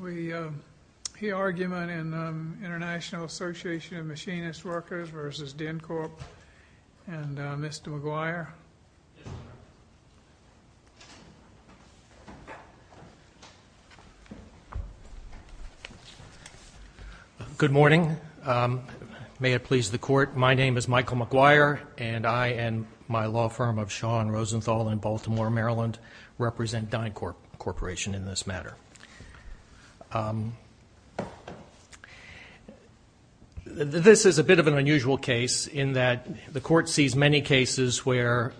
We hear argument in the International Association of Machinist Workers v. DynCorp and Mr. McGuire. Good morning. May it please the court, my name is Michael McGuire and I and my law firm of Shaw and Rosenthal in Baltimore, Maryland, represent DynCorp Corporation in this matter. This is a bit of an unusual case in that the court sees many cases where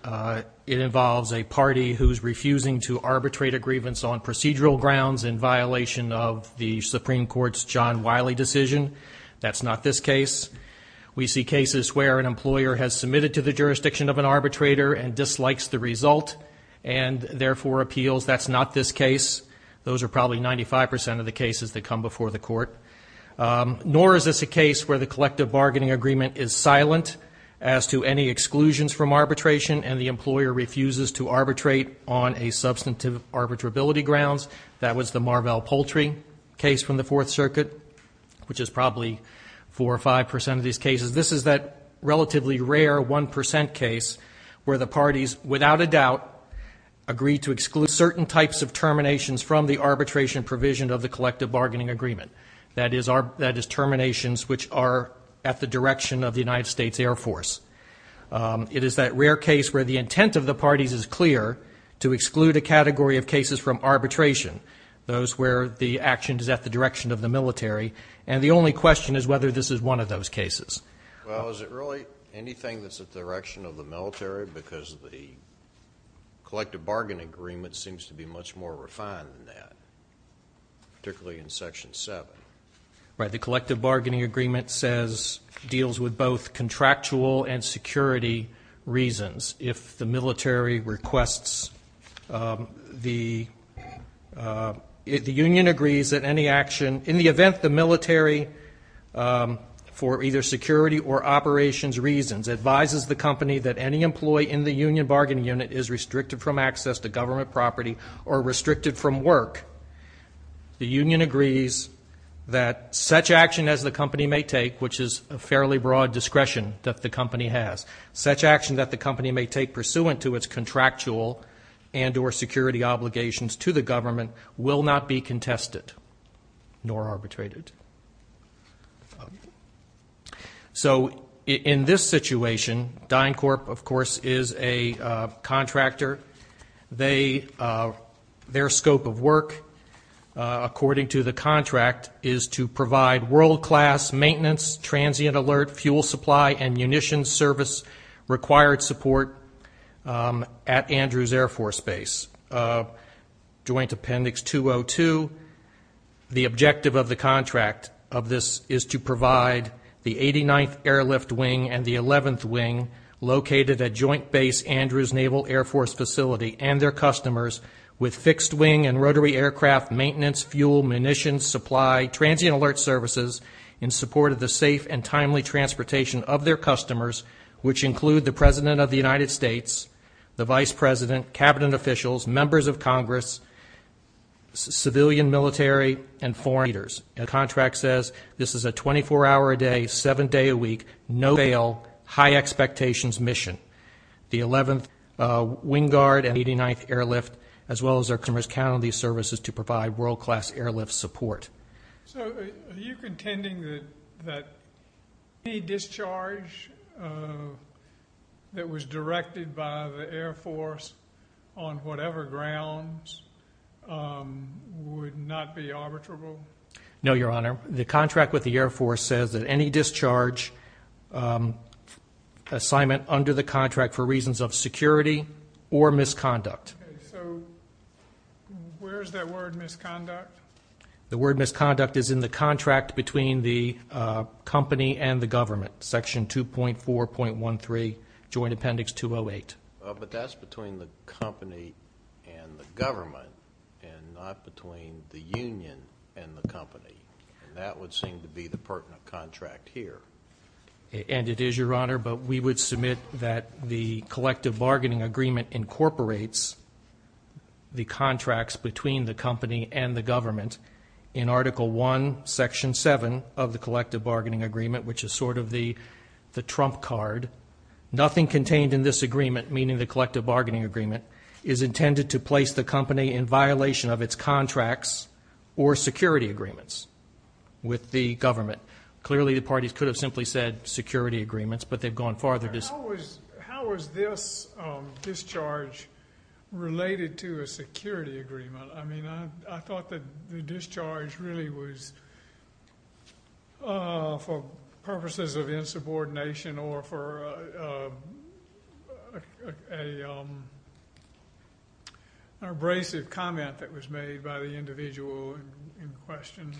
it involves a party who's refusing to arbitrate a grievance on procedural grounds in violation of the Supreme Court's John Wiley decision. That's not this case. We see cases where an employer has submitted to the jurisdiction of an arbitrator and dislikes the result and therefore appeals. That's not this case. Those are probably 95% of the cases that come before the court. Nor is this a case where the collective bargaining agreement is silent as to any exclusions from arbitration and the employer refuses to arbitrate on a substantive arbitrability grounds. That was the Marvell Poultry case from the Fourth Circuit, which is probably 4 or 5% of these cases. This is that relatively rare 1% case where the parties, without a doubt, agree to exclude certain types of terminations from the arbitration provision of the collective bargaining agreement. That is terminations which are at the direction of the United States Air Force. It is that rare case where the intent of the parties is clear to exclude a category of cases from arbitration, those where the action is at the direction of the military. And the only question is whether this is one of those cases. Well, is it really anything that's at the direction of the military? Because the collective bargaining agreement seems to be much more refined than that, particularly in Section 7. The collective bargaining agreement deals with both contractual and security reasons. If the military requests, the union agrees that any action, in the event the military, for either security or operations reasons, advises the company that any employee in the union bargaining unit is restricted from access to government property or restricted from work, the union agrees that such action as the company may take, which is a fairly broad discretion that the company has, such action that the company may take pursuant to its contractual and or security obligations to the government will not be contested nor arbitrated. So in this situation, DynCorp, of course, is a contractor. Their scope of work, according to the contract, is to provide world-class maintenance, transient alert, fuel supply and munitions service required support at Andrews Air Force Base. Joint Appendix 202, the objective of the contract of this is to provide the 89th Airlift Wing and the 11th Wing located at Joint Base Andrews Naval Air Force Facility and their customers with fixed wing and rotary aircraft maintenance, fuel, munitions, supply, transient alert services in support of the safe and timely transportation of their customers, which include the President of the United States, the Vice President, Cabinet officials, members of Congress, civilian, military and foreign leaders. The contract says this is a 24-hour-a-day, seven-day-a-week, no-fail, high-expectations mission. The 11th Wing Guard and 89th Airlift, as well as our customers, count on these services to provide world-class airlift support. So are you contending that any discharge that was directed by the Air Force on whatever grounds would not be arbitrable? No, Your Honor. The contract with the Air Force says that any discharge assignment under the contract for reasons of security or misconduct. So where is that word, misconduct? The word misconduct is in the contract between the company and the government, Section 2.4.13, Joint Appendix 208. But that's between the company and the government and not between the union and the company, and that would seem to be the pertinent contract here. And it is, Your Honor, but we would submit that the collective bargaining agreement incorporates the contracts between the company and the government in Article I, Section 7 of the collective bargaining agreement, which is sort of the trump card. Nothing contained in this agreement, meaning the collective bargaining agreement, is intended to place the company in violation of its contracts or security agreements with the government. Clearly, the parties could have simply said security agreements, but they've gone farther. How is this discharge related to a security agreement? I mean, I thought that the discharge really was for purposes of insubordination or for an abrasive comment that was made by the individual in question,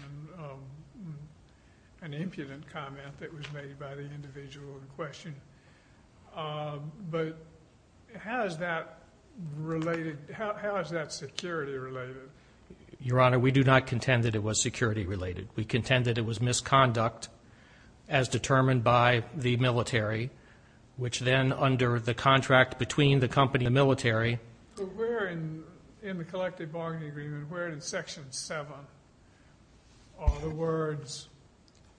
an impudent comment that was made by the individual in question. But how is that security related? Your Honor, we do not contend that it was security related. We contend that it was misconduct as determined by the military, which then under the contract between the company and the military. But where in the collective bargaining agreement, where in Section 7, are the words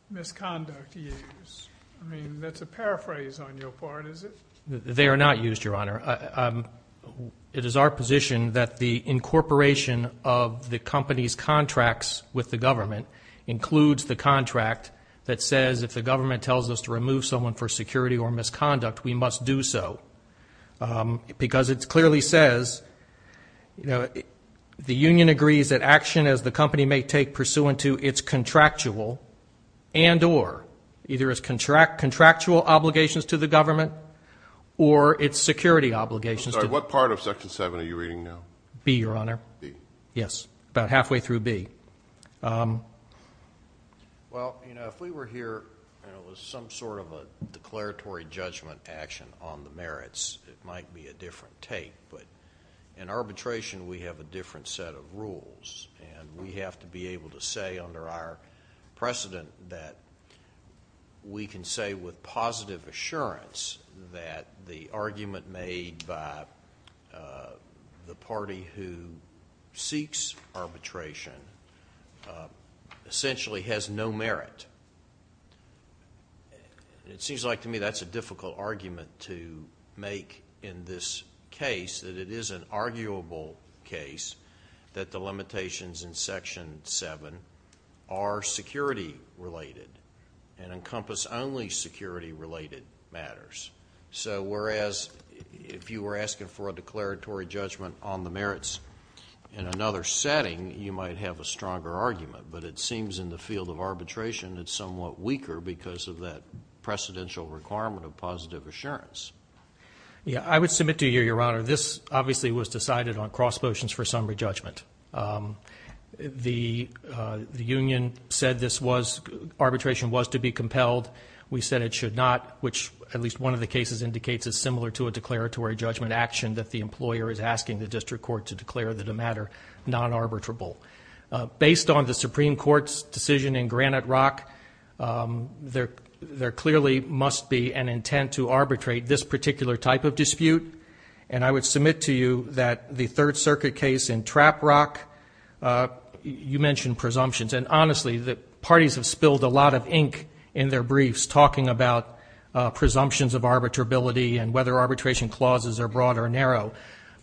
misconduct used? I mean, that's a paraphrase on your part, is it? They are not used, Your Honor. It is our position that the incorporation of the company's contracts with the government includes the contract that says if the government tells us to remove someone for security or misconduct, we must do so, because it clearly says the union agrees that action as the company may take pursuant to its contractual and or either its contractual obligations to the government or its security obligations. I'm sorry, what part of Section 7 are you reading now? B, Your Honor. B. Yes, about halfway through B. Well, you know, if we were here and it was some sort of a declaratory judgment action on the merits, it might be a different take, but in arbitration we have a different set of rules, and we have to be able to say under our precedent that we can say with positive assurance that the argument made by the party who seeks arbitration essentially has no merit. It seems like to me that's a difficult argument to make in this case, that it is an arguable case that the limitations in Section 7 are security related and encompass only security related matters. So whereas if you were asking for a declaratory judgment on the merits in another setting, you might have a stronger argument, but it seems in the field of arbitration it's somewhat weaker because of that precedential requirement of positive assurance. Yeah, I would submit to you, Your Honor, this obviously was decided on cross motions for summary judgment. The union said arbitration was to be compelled. We said it should not, which at least one of the cases indicates is similar to a declaratory judgment action that the employer is asking the district court to declare the matter non-arbitrable. Based on the Supreme Court's decision in Granite Rock, there clearly must be an intent to arbitrate this particular type of dispute, and I would submit to you that the Third Circuit case in Trap Rock, you mentioned presumptions, and honestly the parties have spilled a lot of ink in their briefs talking about presumptions of arbitrability and whether arbitration clauses are broad or narrow.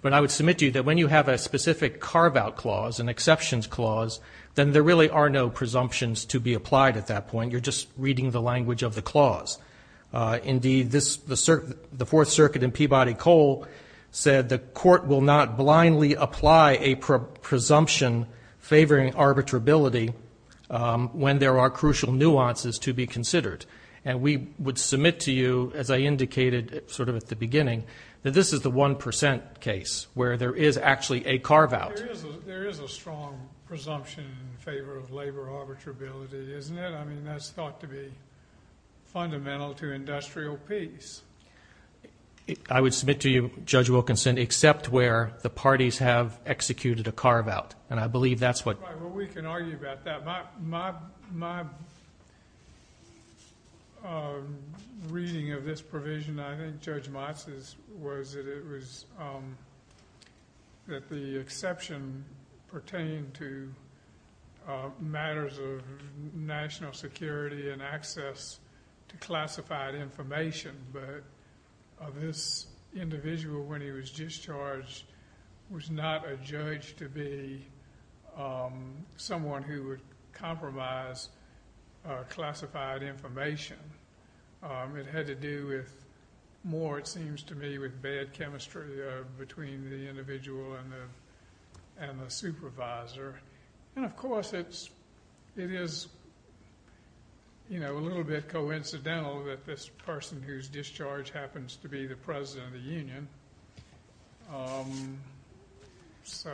But I would submit to you that when you have a specific carve-out clause, an exceptions clause, then there really are no presumptions to be applied at that point. You're just reading the language of the clause. Indeed, the Fourth Circuit in Peabody Cole said the court will not blindly apply a presumption favoring arbitrability when there are crucial nuances to be considered. And we would submit to you, as I indicated sort of at the beginning, that this is the 1% case where there is actually a carve-out. There is a strong presumption in favor of labor arbitrability, isn't it? I mean, that's thought to be fundamental to industrial peace. I would submit to you, Judge Wilkinson, except where the parties have executed a carve-out, and I believe that's what... Well, we can argue about that. My reading of this provision, I think Judge Motz's, was that the exception pertained to matters of national security and access to classified information. But this individual, when he was discharged, was not a judge to be someone who would compromise classified information. It had to do with... more, it seems to me, with bad chemistry between the individual and the supervisor. And, of course, it is a little bit coincidental that this person who's discharged happens to be the president of the union. So,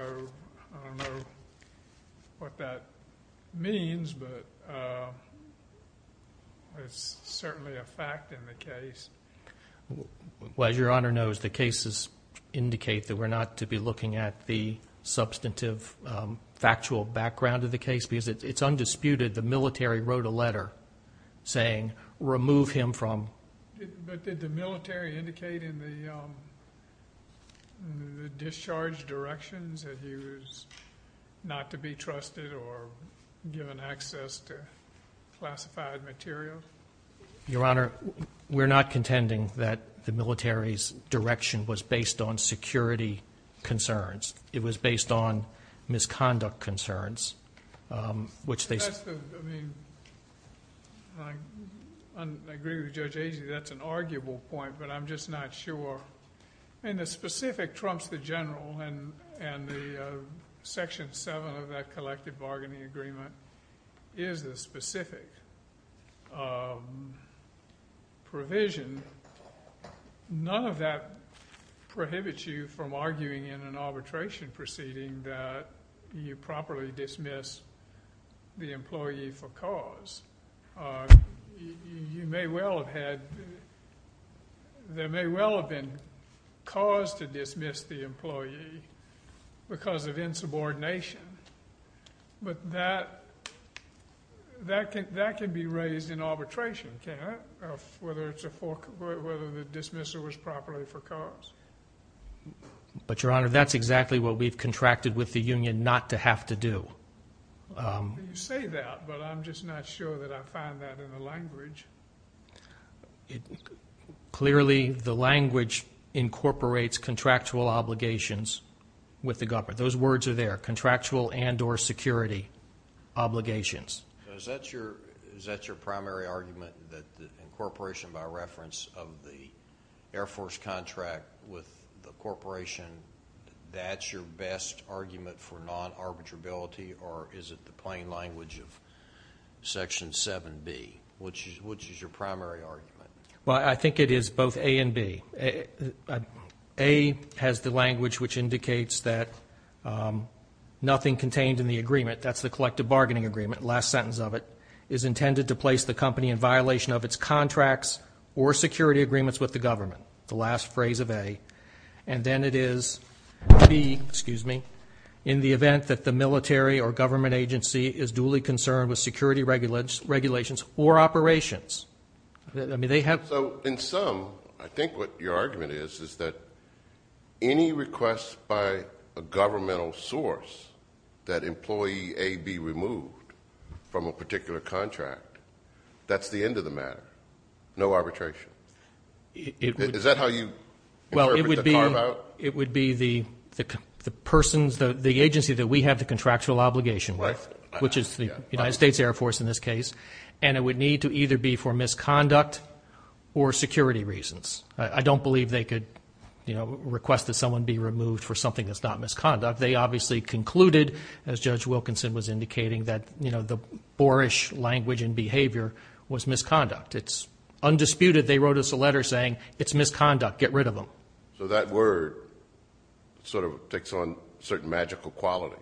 I don't know what that means, but it's certainly a fact in the case. Well, as Your Honor knows, the cases indicate that we're not to be looking at the substantive factual background of the case because it's undisputed the military wrote a letter saying, remove him from... But did the military indicate in the discharge directions that he was not to be trusted or given access to classified material? Your Honor, we're not contending that the military's direction was based on security concerns. It was based on misconduct concerns, which they... That's the... I mean, I agree with Judge Agee, that's an arguable point, but I'm just not sure... I mean, the specific trumps the general, and the Section 7 of that collective bargaining agreement is the specific provision. None of that prohibits you from arguing in an arbitration proceeding that you properly dismiss the employee for cause. You may well have had... There may well have been cause to dismiss the employee because of insubordination, but that can be raised in arbitration, can't it, of whether the dismissal was properly for cause? But, Your Honor, that's exactly what we've contracted with the union not to have to do. You say that, but I'm just not sure that I find that in the language. Clearly, the language incorporates contractual obligations with the government. Those words are there, contractual and or security obligations. Is that your primary argument, that the incorporation by reference of the Air Force contract with the incorporation, that's your best argument for non-arbitrability, or is it the plain language of Section 7B, which is your primary argument? Well, I think it is both A and B. A has the language which indicates that nothing contained in the agreement, that's the collective bargaining agreement, last sentence of it, is intended to place the company in violation of its contracts or security agreements with the government. The last phrase of A, and then it is B, excuse me, in the event that the military or government agency is duly concerned with security regulations or operations. So in sum, I think what your argument is, is that any request by a governmental source that employee A be removed from a particular contract, that's the end of the matter, no arbitration. Is that how you interpret the carve out? Well, it would be the agency that we have the contractual obligation with, which is the United States Air Force in this case, and it would need to either be for misconduct or security reasons. I don't believe they could request that someone be removed for something that's not misconduct. They obviously concluded, as Judge Wilkinson was indicating, that the boorish language and behavior was misconduct. It's undisputed they wrote us a letter saying it's misconduct, get rid of them. So that word sort of takes on certain magical quality.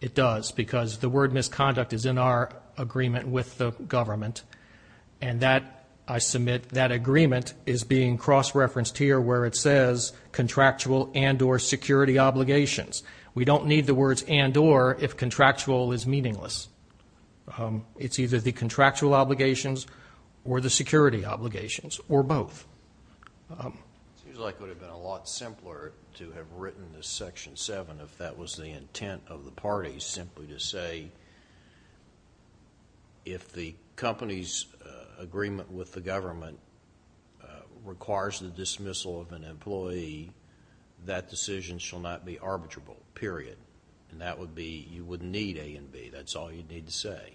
It does, because the word misconduct is in our agreement with the government, and that, I submit, that agreement is being cross-referenced here where it says contractual and or security obligations. We don't need the words and or if contractual is meaningless. It's either the contractual obligations or the security obligations or both. It seems like it would have been a lot simpler to have written this Section 7 if that was the intent of the parties simply to say, if the company's agreement with the government requires the dismissal of an employee, that decision shall not be arbitrable, period. And that would be, you wouldn't need A and B. That's all you'd need to say.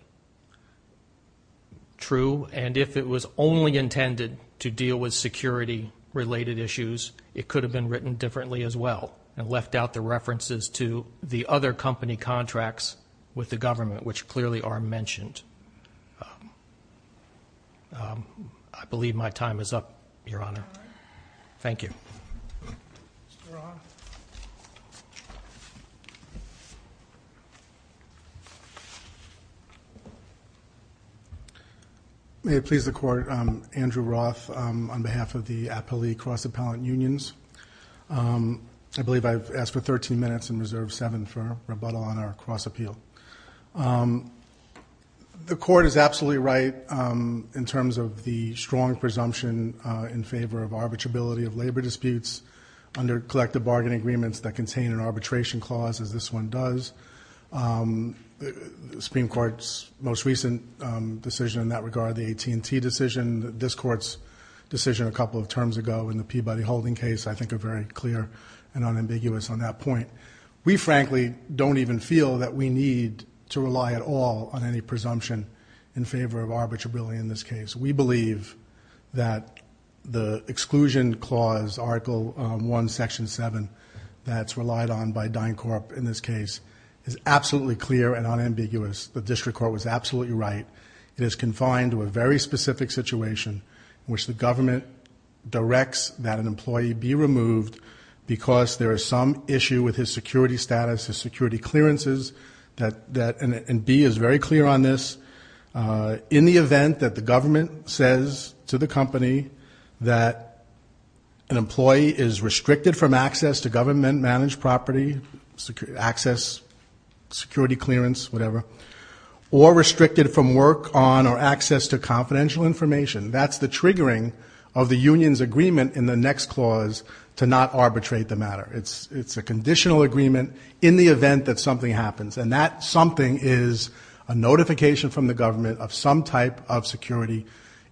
True, and if it was only intended to deal with security-related issues, it could have been written differently as well and left out the references to the other company contracts with the government, which clearly are mentioned. I believe my time is up, Your Honor. Thank you. Mr. Roth? May it please the Court, I'm Andrew Roth on behalf of the Appellee Cross-Appellant Unions. I believe I've asked for 13 minutes and reserved seven for rebuttal on our cross-appeal. The Court is absolutely right in terms of the strong presumption in favor of arbitrability of labor disputes under collective bargaining agreements that contain an arbitration clause, as this one does. The Supreme Court's most recent decision in that regard, the AT&T decision, this Court's decision a couple of terms ago in the Peabody Holding case, I think are very clear and unambiguous on that point. We, frankly, don't even feel that we need to rely at all on any presumption in favor of arbitrability in this case. We believe that the exclusion clause, Article I, Section 7, that's relied on by DynCorp in this case is absolutely clear and unambiguous. The District Court was absolutely right. It is confined to a very specific situation in which the government directs that an employee be removed because there is some issue with his security status, his security clearances. And B is very clear on this. In the event that the government says to the company that an employee is restricted from access to government-managed property, access, security clearance, whatever, or restricted from work on or access to confidential information, that's the triggering of the union's agreement in the next clause to not arbitrate the matter. It's a conditional agreement in the event that something happens, and that something is a notification from the government of some type of security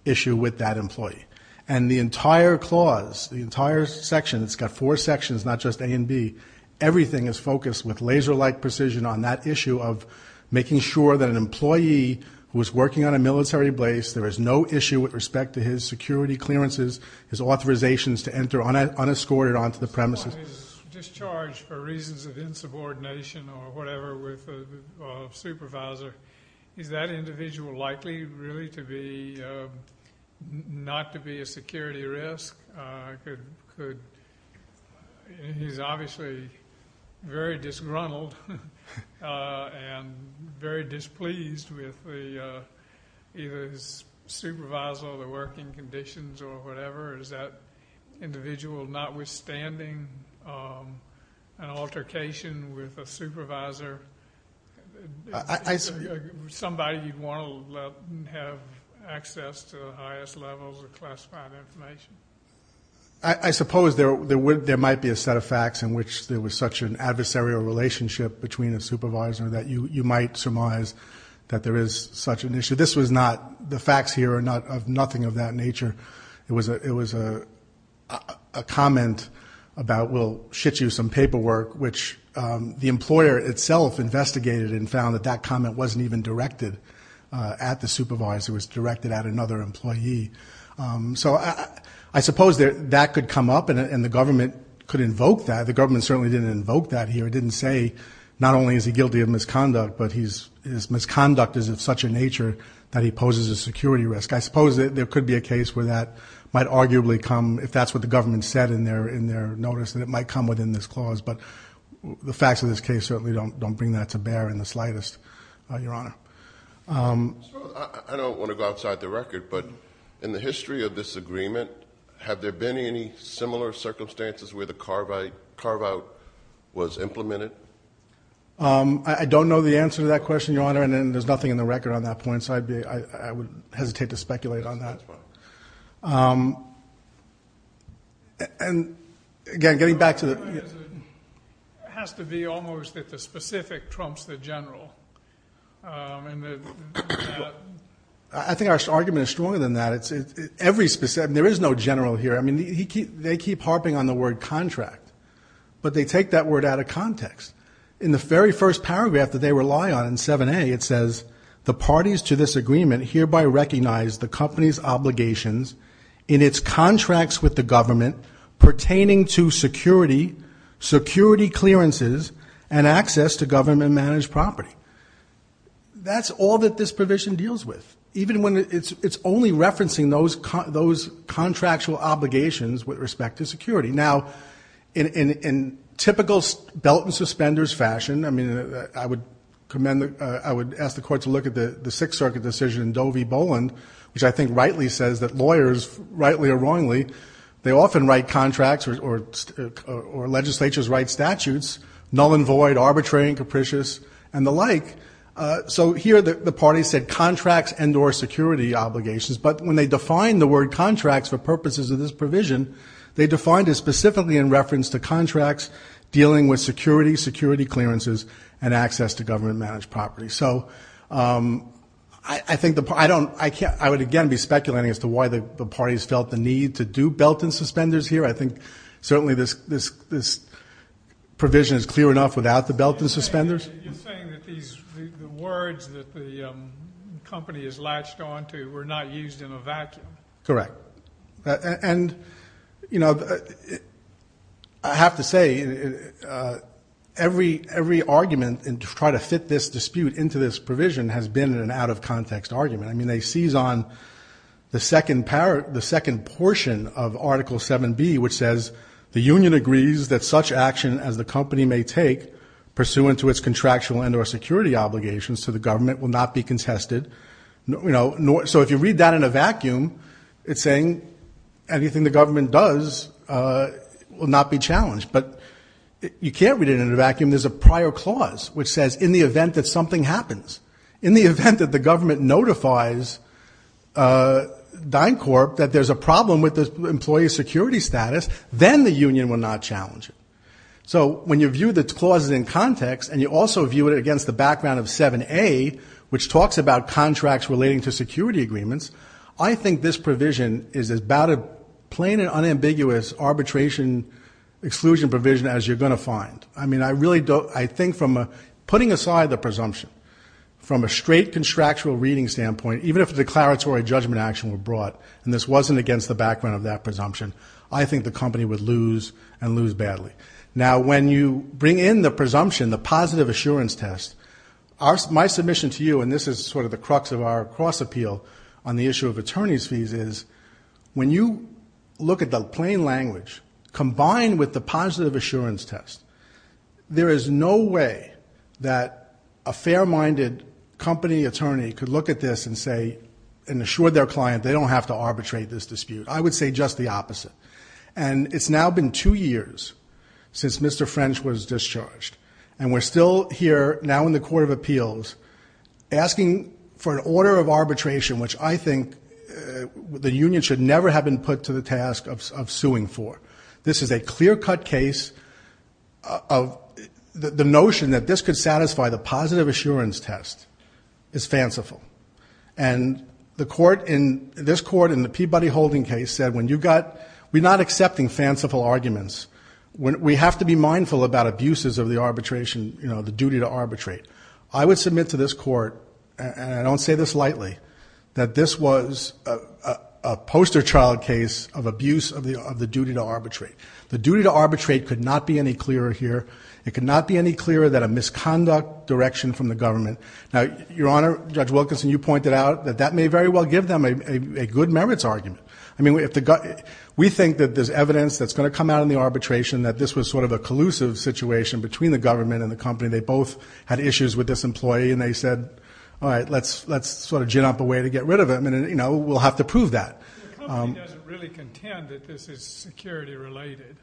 issue with that employee. And the entire clause, the entire section, it's got four sections, not just A and B, everything is focused with laser-like precision on that issue of making sure that an employee who is working on a military base, there is no issue with respect to his security clearances, his authorizations to enter unescorted onto the premises. If someone is discharged for reasons of insubordination or whatever with a supervisor, is that individual likely really to be not to be a security risk? He's obviously very disgruntled and very displeased with either his supervisor or the working conditions or whatever. Is that individual, notwithstanding an altercation with a supervisor, somebody you'd want to let have access to the highest levels of classified information? I suppose there might be a set of facts in which there was such an adversarial relationship between a supervisor that you might surmise that there is such an issue. The facts here are nothing of that nature. It was a comment about, well, shit you some paperwork, which the employer itself investigated and found that that comment wasn't even directed at the supervisor. It was directed at another employee. So I suppose that could come up and the government could invoke that. The government certainly didn't invoke that here. It didn't say not only is he guilty of misconduct, but his misconduct is of such a nature that he poses a security risk. I suppose there could be a case where that might arguably come, if that's what the government said in their notice, that it might come within this clause. But the facts of this case certainly don't bring that to bear in the slightest, Your Honor. I don't want to go outside the record, but in the history of this agreement, have there been any similar circumstances where the carve-out was implemented? I don't know the answer to that question, Your Honor, and there's nothing in the record on that point. So I would hesitate to speculate on that. And, again, getting back to the- It has to be almost that the specific trumps the general. I think our argument is stronger than that. There is no general here. I mean, they keep harping on the word contract, but they take that word out of context. In the very first paragraph that they rely on in 7A, it says, the parties to this agreement hereby recognize the company's obligations in its contracts with the government pertaining to security, security clearances, and access to government-managed property. That's all that this provision deals with, even when it's only referencing those contractual obligations with respect to security. Now, in typical belt-and-suspenders fashion, I mean, I would ask the court to look at the Sixth Circuit decision, Doe v. Boland, which I think rightly says that lawyers, rightly or wrongly, they often write contracts or legislatures write statutes, null and void, arbitrary and capricious, and the like. So here the parties said contracts and or security obligations, but when they define the word contracts for purposes of this provision, they defined it specifically in reference to contracts dealing with security, security clearances, and access to government-managed property. So I would again be speculating as to why the parties felt the need to do belt-and-suspenders here. I think certainly this provision is clear enough without the belt-and-suspenders. You're saying that the words that the company is latched onto were not used in a vacuum. Correct. And, you know, I have to say every argument to try to fit this dispute into this provision has been an out-of-context argument. I mean, they seize on the second portion of Article 7B, which says, the union agrees that such action as the company may take, pursuant to its contractual and or security obligations to the government, will not be contested. So if you read that in a vacuum, it's saying anything the government does will not be challenged. But you can't read it in a vacuum. There's a prior clause which says in the event that something happens, in the event that the government notifies DynCorp that there's a problem with the employee's security status, then the union will not challenge it. So when you view the clauses in context, and you also view it against the background of 7A, which talks about contracts relating to security agreements, I think this provision is about a plain and unambiguous arbitration exclusion provision as you're going to find. I mean, I really don't. I think from putting aside the presumption, from a straight contractual reading standpoint, even if a declaratory judgment action were brought, and this wasn't against the background of that presumption, I think the company would lose and lose badly. Now, when you bring in the presumption, the positive assurance test, my submission to you, and this is sort of the crux of our cross-appeal on the issue of attorney's fees, is when you look at the plain language combined with the positive assurance test, there is no way that a fair-minded company attorney could look at this and say, and assure their client they don't have to arbitrate this dispute. I would say just the opposite. And it's now been two years since Mr. French was discharged, and we're still here now in the Court of Appeals asking for an order of arbitration, which I think the union should never have been put to the task of suing for. This is a clear-cut case of the notion that this could satisfy the positive assurance test is fanciful. And this court in the Peabody-Holding case said, we're not accepting fanciful arguments. We have to be mindful about abuses of the duty to arbitrate. I would submit to this court, and I don't say this lightly, that this was a poster child case of abuse of the duty to arbitrate. The duty to arbitrate could not be any clearer here. It could not be any clearer than a misconduct direction from the government. Now, Your Honor, Judge Wilkinson, you pointed out that that may very well give them a good merits argument. I mean, we think that there's evidence that's going to come out in the arbitration that this was sort of a collusive situation between the government and the company. They both had issues with this employee, and they said, all right, let's sort of gin up a way to get rid of him. And, you know, we'll have to prove that. The company doesn't really contend that this is security-related.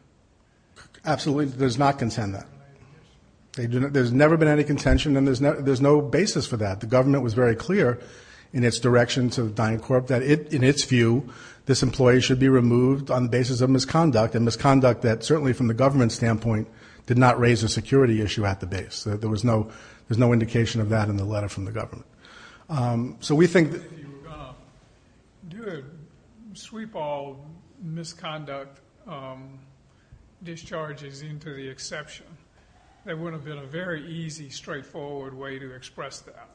Absolutely does not contend that. There's never been any contention, and there's no basis for that. The government was very clear in its direction to the dying corp that, in its view, this employee should be removed on the basis of misconduct, and misconduct that certainly from the government's standpoint did not raise a security issue at the base. There was no indication of that in the letter from the government. So we think that if you were going to sweep all misconduct discharges into the exception, there would have been a very easy, straightforward way to express that.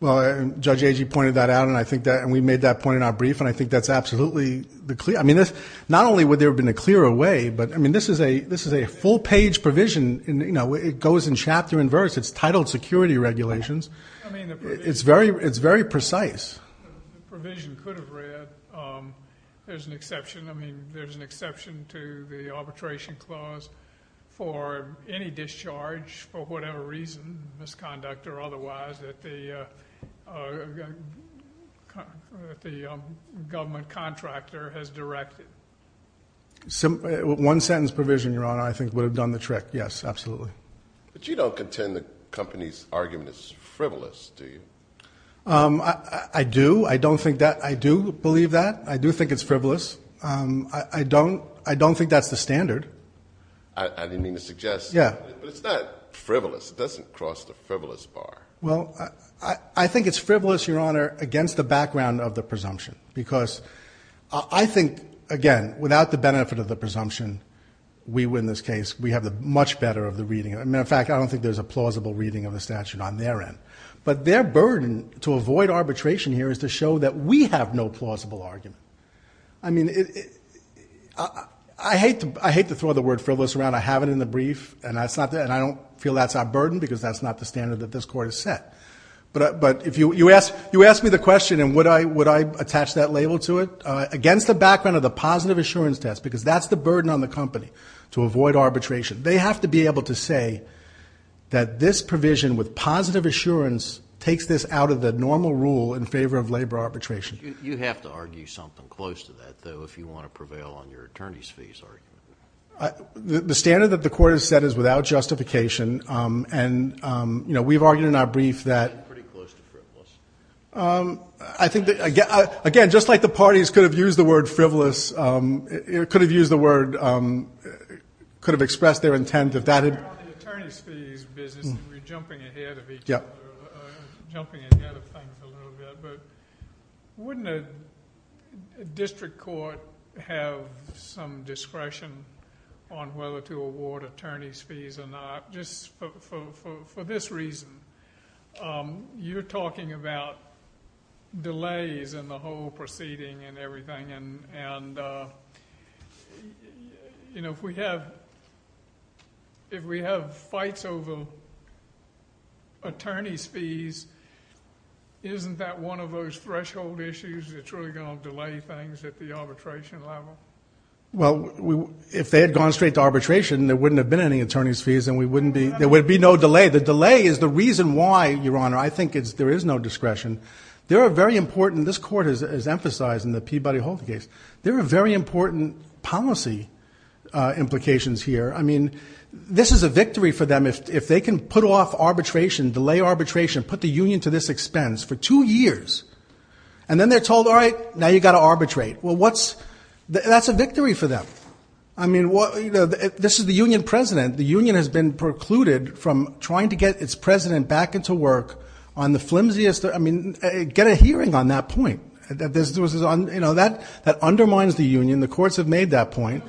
Well, Judge Agee pointed that out, and we made that point in our brief, and I think that's absolutely clear. I mean, not only would there have been a clearer way, but, I mean, this is a full-page provision. It goes in chapter and verse. It's titled Security Regulations. It's very precise. The provision could have read, there's an exception. I mean, there's an exception to the arbitration clause for any discharge for whatever reason, misconduct or otherwise, that the government contractor has directed. One-sentence provision, Your Honor, I think would have done the trick. Yes, absolutely. But you don't contend the company's argument is frivolous, do you? I do. I don't think that. I do believe that. I do think it's frivolous. I don't think that's the standard. I didn't mean to suggest that. Yeah. But it's not frivolous. It doesn't cross the frivolous bar. Well, I think it's frivolous, Your Honor, against the background of the presumption, because I think, again, without the benefit of the presumption, we win this case. We have the much better of the reading. As a matter of fact, I don't think there's a plausible reading of the statute on their end. But their burden to avoid arbitration here is to show that we have no plausible argument. I mean, I hate to throw the word frivolous around. I have it in the brief, and I don't feel that's our burden, because that's not the standard that this Court has set. But you asked me the question, and would I attach that label to it, against the background of the positive assurance test, because that's the burden on the company, to avoid arbitration. They have to be able to say that this provision with positive assurance takes this out of the normal rule in favor of labor arbitration. You have to argue something close to that, though, if you want to prevail on your attorney's fees argument. The standard that the Court has set is without justification. And, you know, we've argued in our brief that – Pretty close to frivolous. I think that, again, just like the parties could have used the word frivolous, could have used the word – could have expressed their intent if that had – In the attorney's fees business, and we're jumping ahead of each other, jumping ahead of things a little bit, but wouldn't a district court have some discretion on whether to award attorney's fees or not? Just for this reason, you're talking about delays in the whole proceeding and everything, and, you know, if we have fights over attorney's fees, isn't that one of those threshold issues that's really going to delay things at the arbitration level? Well, if they had gone straight to arbitration, there wouldn't have been any attorney's fees, and we wouldn't be – There would be no delay. The delay is the reason why, Your Honor, I think there is no discretion. There are very important – This court has emphasized in the Peabody-Holt case. There are very important policy implications here. I mean, this is a victory for them. If they can put off arbitration, delay arbitration, put the union to this expense for two years, and then they're told, all right, now you've got to arbitrate. Well, what's – That's a victory for them. I mean, this is the union president. The union has been precluded from trying to get its president back into work on the flimsiest – I mean, get a hearing on that point. That undermines the union. The courts have made that point.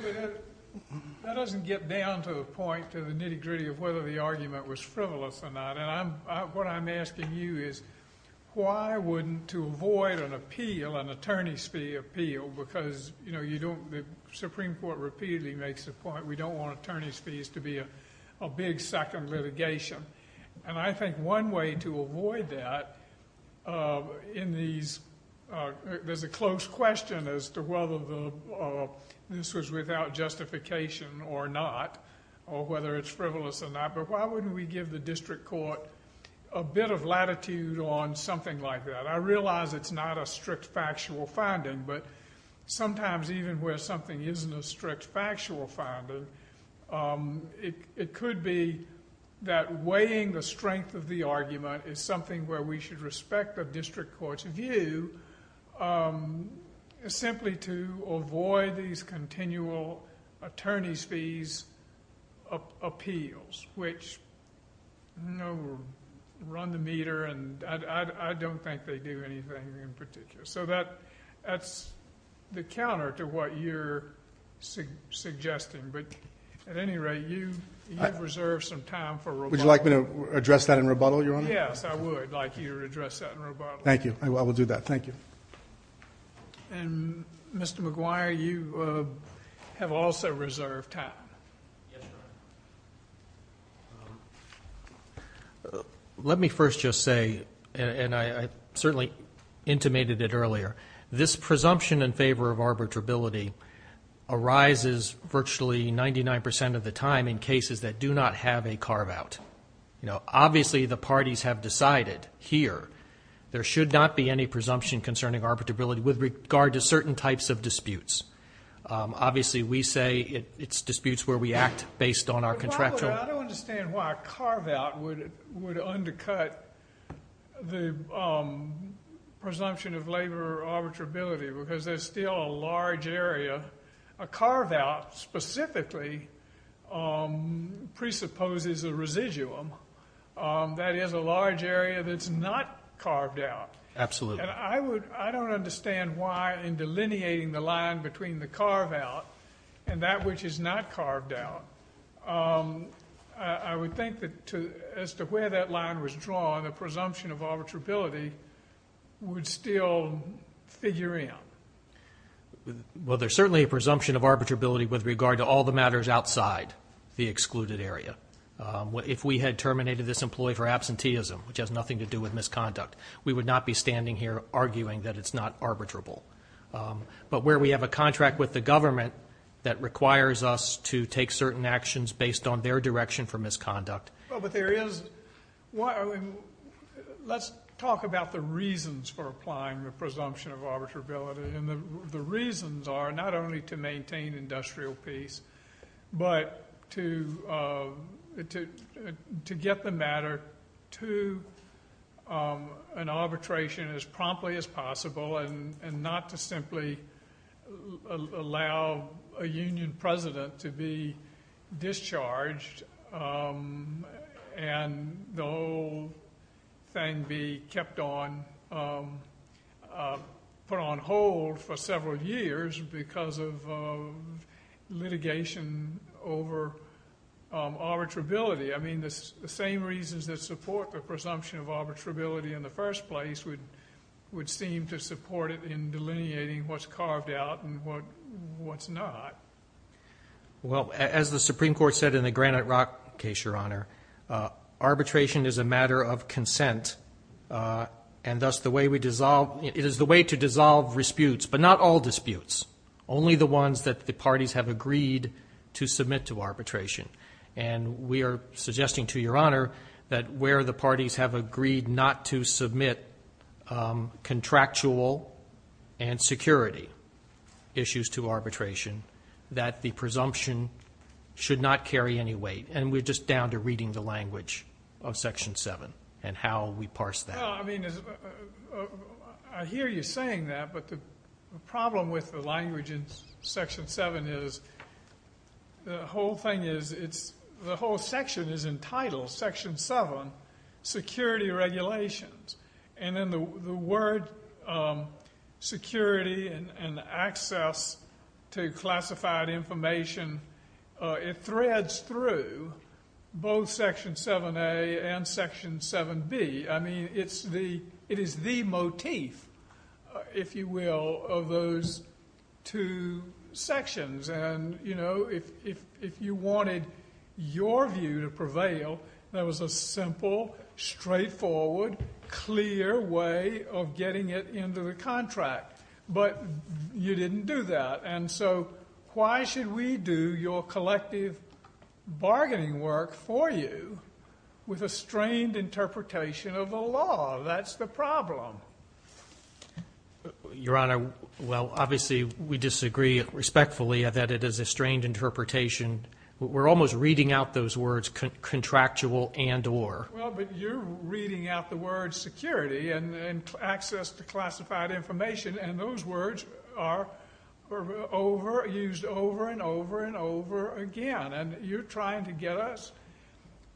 That doesn't get down to the point to the nitty-gritty of whether the argument was frivolous or not, and what I'm asking you is why wouldn't – to avoid an appeal, an attorney's fee appeal, because the Supreme Court repeatedly makes the point we don't want attorney's fees to be a big second litigation. I think one way to avoid that in these – there's a close question as to whether this was without justification or not, or whether it's frivolous or not, but why wouldn't we give the district court a bit of latitude on something like that? I realize it's not a strict factual finding, but sometimes even where something isn't a strict factual finding, it could be that weighing the strength of the argument is something where we should respect the district court's view simply to avoid these continual attorney's fees appeals, which run the meter, and I don't think they do anything in particular. So that's the counter to what you're suggesting, but at any rate, you've reserved some time for rebuttal. Would you like me to address that in rebuttal, Your Honor? Yes, I would like you to address that in rebuttal. Thank you. I will do that. Thank you. And Mr. McGuire, you have also reserved time. Yes, Your Honor. Let me first just say, and I certainly intimated it earlier, this presumption in favor of arbitrability arises virtually 99% of the time in cases that do not have a carve-out. Obviously, the parties have decided here there should not be any presumption concerning arbitrability with regard to certain types of disputes. Obviously, we say it's disputes where we act based on our contractual… By the way, I don't understand why a carve-out would undercut the presumption of labor arbitrability, because there's still a large area. A carve-out specifically presupposes a residuum. That is a large area that's not carved out. Absolutely. And I don't understand why in delineating the line between the carve-out and that which is not carved out, I would think that as to where that line was drawn, the presumption of arbitrability would still figure in. Well, there's certainly a presumption of arbitrability with regard to all the matters outside the excluded area. If we had terminated this employee for absenteeism, which has nothing to do with misconduct, we would not be standing here arguing that it's not arbitrable. But where we have a contract with the government that requires us to take certain actions based on their direction for misconduct. Well, but there is… Let's talk about the reasons for applying the presumption of arbitrability. And the reasons are not only to maintain industrial peace, but to get the matter to an arbitration as promptly as possible and not to simply allow a union president to be discharged and the whole thing be kept on, put on hold for several years because of litigation over arbitrability. I mean, the same reasons that support the presumption of arbitrability in the first place would seem to support it in delineating what's carved out and what's not. Well, as the Supreme Court said in the Granite Rock case, Your Honor, arbitration is a matter of consent and thus the way we dissolve… It is the way to dissolve disputes, but not all disputes, only the ones that the parties have agreed to submit to arbitration. And we are suggesting to Your Honor that where the parties have agreed not to submit contractual and security issues to arbitration, that the presumption should not carry any weight. And we're just down to reading the language of Section 7 and how we parse that. I mean, I hear you saying that, but the problem with the language in Section 7 is the whole section is entitled Section 7, Security Regulations, and then the word security and access to classified information, it threads through both Section 7a and Section 7b. I mean, it is the motif, if you will, of those two sections. And, you know, if you wanted your view to prevail, there was a simple, straightforward, clear way of getting it into the contract. But you didn't do that. And so why should we do your collective bargaining work for you with a strained interpretation of the law? That's the problem. Your Honor, well, obviously we disagree respectfully that it is a strained interpretation. We're almost reading out those words contractual and or. Well, but you're reading out the words security and access to classified information, and those words are used over and over and over again. And you're trying to get us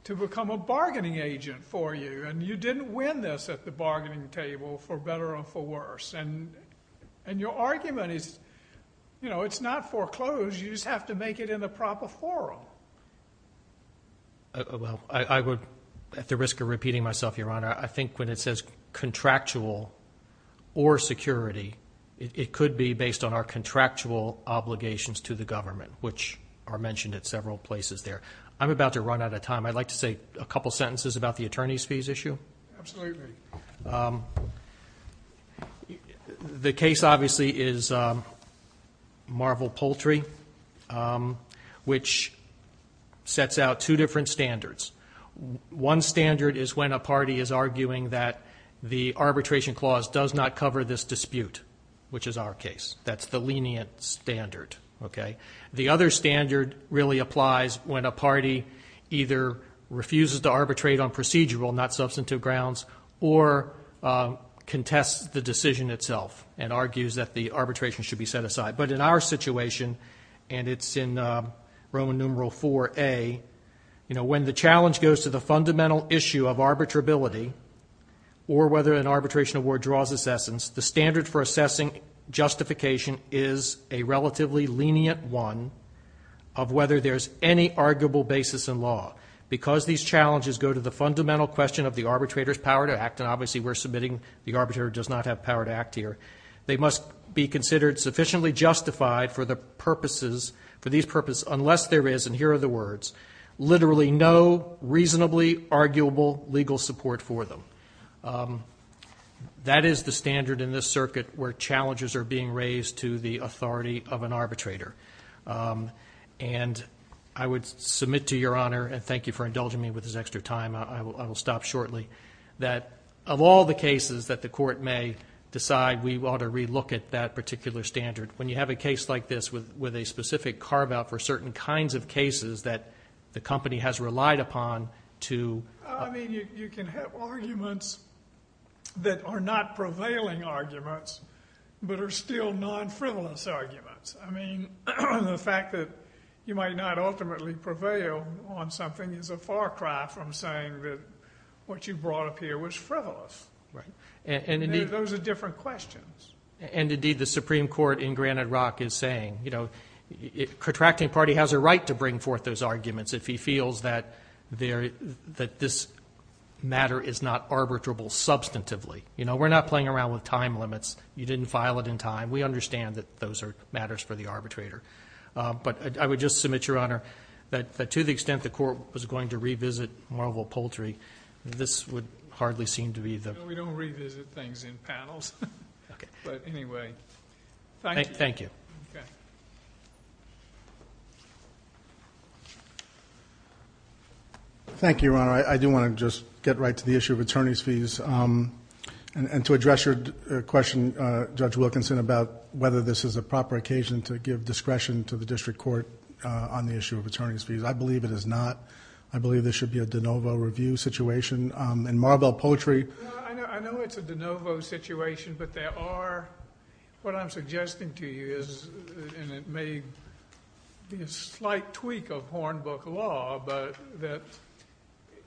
to become a bargaining agent for you. And you didn't win this at the bargaining table, for better or for worse. And your argument is, you know, it's not foreclosed. You just have to make it in the proper forum. Well, I would, at the risk of repeating myself, Your Honor, I think when it says contractual or security, it could be based on our contractual obligations to the government, which are mentioned at several places there. I'm about to run out of time. I'd like to say a couple sentences about the attorney's fees issue. Absolutely. The case, obviously, is Marvel Poultry, which sets out two different standards. One standard is when a party is arguing that the arbitration clause does not cover this dispute, which is our case. That's the lenient standard. The other standard really applies when a party either refuses to arbitrate on procedural, not substantive grounds, or contests the decision itself and argues that the arbitration should be set aside. But in our situation, and it's in Roman numeral 4A, when the challenge goes to the fundamental issue of arbitrability or whether an arbitration award draws assessments, the standard for assessing justification is a relatively lenient one of whether there's any arguable basis in law. Because these challenges go to the fundamental question of the arbitrator's power to act, and obviously we're submitting the arbitrator does not have power to act here, they must be considered sufficiently justified for these purposes unless there is, and here are the words, literally no reasonably arguable legal support for them. That is the standard in this circuit where challenges are being raised to the authority of an arbitrator. And I would submit to Your Honor, and thank you for indulging me with this extra time, I will stop shortly, that of all the cases that the court may decide we ought to relook at that particular standard, when you have a case like this with a specific carve-out for certain kinds of cases that the company has relied upon to... I mean you can have arguments that are not prevailing arguments, but are still non-frivolous arguments. I mean the fact that you might not ultimately prevail on something is a far cry from saying that what you brought up here was frivolous. Those are different questions. And indeed the Supreme Court in Granite Rock is saying, the contracting party has a right to bring forth those arguments if he feels that this matter is not arbitrable substantively. You know, we're not playing around with time limits. You didn't file it in time. We understand that those are matters for the arbitrator. But I would just submit, Your Honor, that to the extent the court was going to revisit Marvel Poultry, this would hardly seem to be the... No, we don't revisit things in panels. But anyway, thank you. Thank you. Okay. Thank you, Your Honor. I do want to just get right to the issue of attorney's fees and to address your question, Judge Wilkinson, about whether this is a proper occasion to give discretion to the district court on the issue of attorney's fees. I believe it is not. I believe this should be a de novo review situation. In Marvel Poultry... I know it's a de novo situation, but there are... And it may be a slight tweak of Hornbook law, but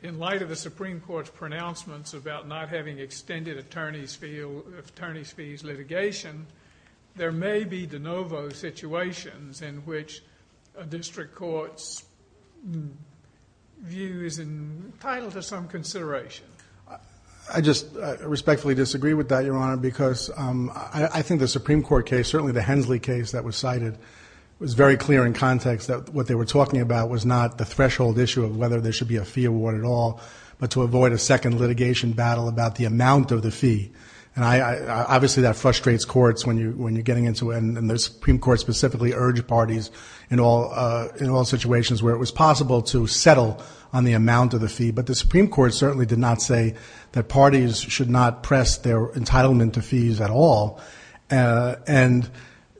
in light of the Supreme Court's pronouncements about not having extended attorney's fees litigation, there may be de novo situations in which a district court's view is entitled to some consideration. I just respectfully disagree with that, Your Honor, because I think the Supreme Court case, certainly the Hensley case that was cited, was very clear in context that what they were talking about was not the threshold issue of whether there should be a fee award at all, but to avoid a second litigation battle about the amount of the fee. And obviously that frustrates courts when you're getting into it, and the Supreme Court specifically urged parties in all situations where it was possible to settle on the amount of the fee. But the Supreme Court certainly did not say that parties should not press their entitlement to fees at all. And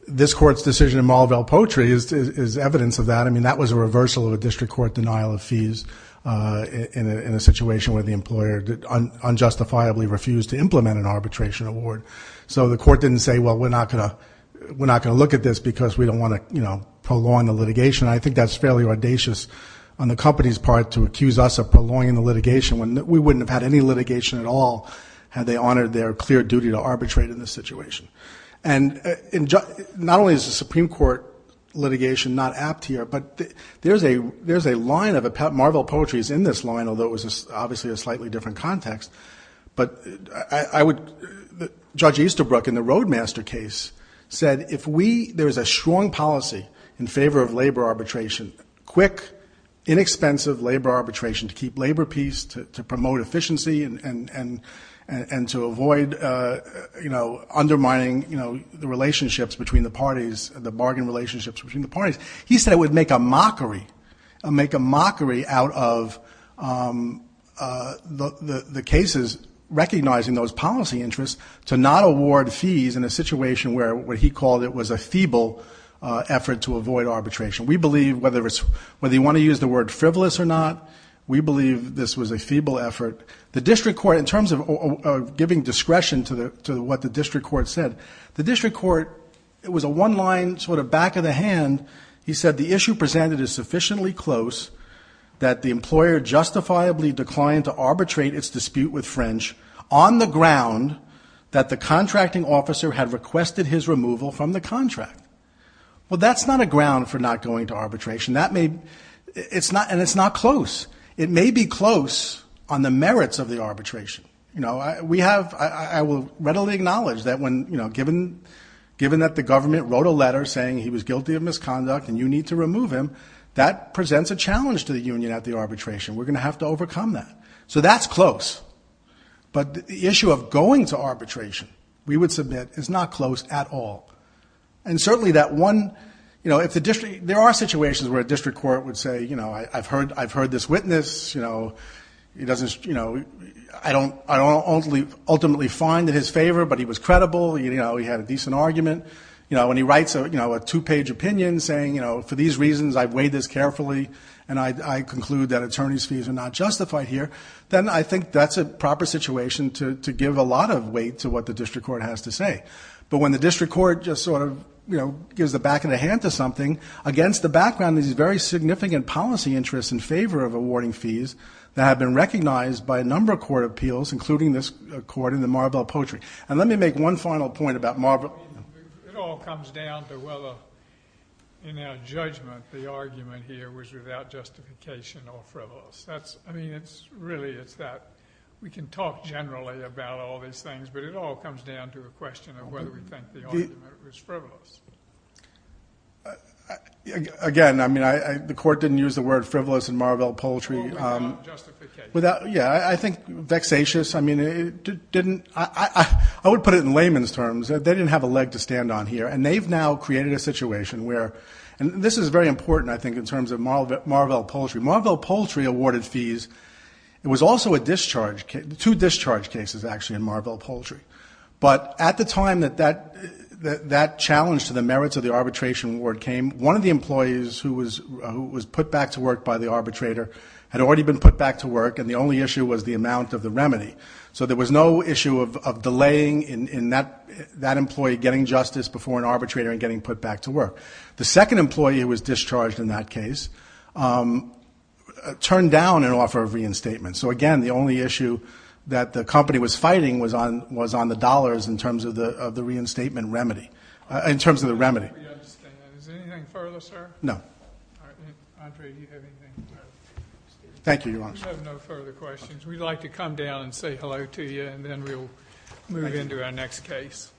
this court's decision in Marvel Poultry is evidence of that. I mean, that was a reversal of a district court denial of fees in a situation where the employer unjustifiably refused to implement an arbitration award. So the court didn't say, well, we're not going to look at this because we don't want to prolong the litigation. I think that's fairly audacious on the company's part to accuse us of prolonging the litigation when we wouldn't have had any litigation at all had they honored their clear duty to arbitrate in this situation. And not only is the Supreme Court litigation not apt here, but there's a line of it. Marvel Poultry is in this line, although it was obviously a slightly different context. But I would... Judge Easterbrook in the Roadmaster case said, if there is a strong policy in favor of labor arbitration, quick, inexpensive labor arbitration to keep labor peace, to promote efficiency and to avoid, you know, undermining the relationships between the parties, the bargain relationships between the parties, he said it would make a mockery... make a mockery out of the cases recognizing those policy interests to not award fees in a situation where, what he called it, was a feeble effort to avoid arbitration. We believe, whether you want to use the word frivolous or not, we believe this was a feeble effort. The district court, in terms of giving discretion to what the district court said, the district court, it was a one-line sort of back of the hand. He said, the issue presented is sufficiently close that the employer justifiably declined to arbitrate its dispute with French on the ground that the contracting officer had requested his removal from the contract. Well, that's not a ground for not going to arbitration. That may... it's not... and it's not close. It may be close on the merits of the arbitration. You know, we have... I will readily acknowledge that when, you know, given that the government wrote a letter saying he was guilty of misconduct and you need to remove him, that presents a challenge to the union at the arbitration. We're going to have to overcome that. So that's close. But the issue of going to arbitration, we would submit, is not close at all. And certainly that one... you know, if the district... There are situations where a district court would say, you know, I've heard this witness, you know, he doesn't, you know... I don't ultimately find in his favour, but he was credible, you know, he had a decent argument. You know, when he writes, you know, a two-page opinion saying, you know, for these reasons I've weighed this carefully and I conclude that attorney's fees are not justified here, then I think that's a proper situation to give a lot of weight to what the district court has to say. But when the district court just sort of, you know, against the background of these very significant policy interests in favour of awarding fees that have been recognised by a number of court appeals, including this court in the Maribel Poetry. And let me make one final point about Maribel... It all comes down to whether, in our judgment, the argument here was without justification or frivolous. I mean, it's really... We can talk generally about all these things, but it all comes down to a question of whether we think the argument was frivolous. Again, I mean, the court didn't use the word frivolous in Maribel Poetry... Without justification. Yeah, I think vexatious, I mean, it didn't... I would put it in layman's terms. They didn't have a leg to stand on here and they've now created a situation where... And this is very important, I think, in terms of Maribel Poetry. Maribel Poetry awarded fees. It was also a discharge... Two discharge cases, actually, in Maribel Poetry. But at the time that that challenge to the merits of the arbitration award came, one of the employees who was put back to work by the arbitrator had already been put back to work and the only issue was the amount of the remedy. So there was no issue of delaying in that employee getting justice before an arbitrator and getting put back to work. The second employee who was discharged in that case turned down an offer of reinstatement. So, again, the only issue that the company was fighting was on the dollars in terms of the reinstatement remedy. In terms of the remedy. Is there anything further, sir? No. Andre, do you have anything to add? Thank you, Your Honor. We have no further questions. We'd like to come down and say hello to you and then we'll move into our next case. Thank you.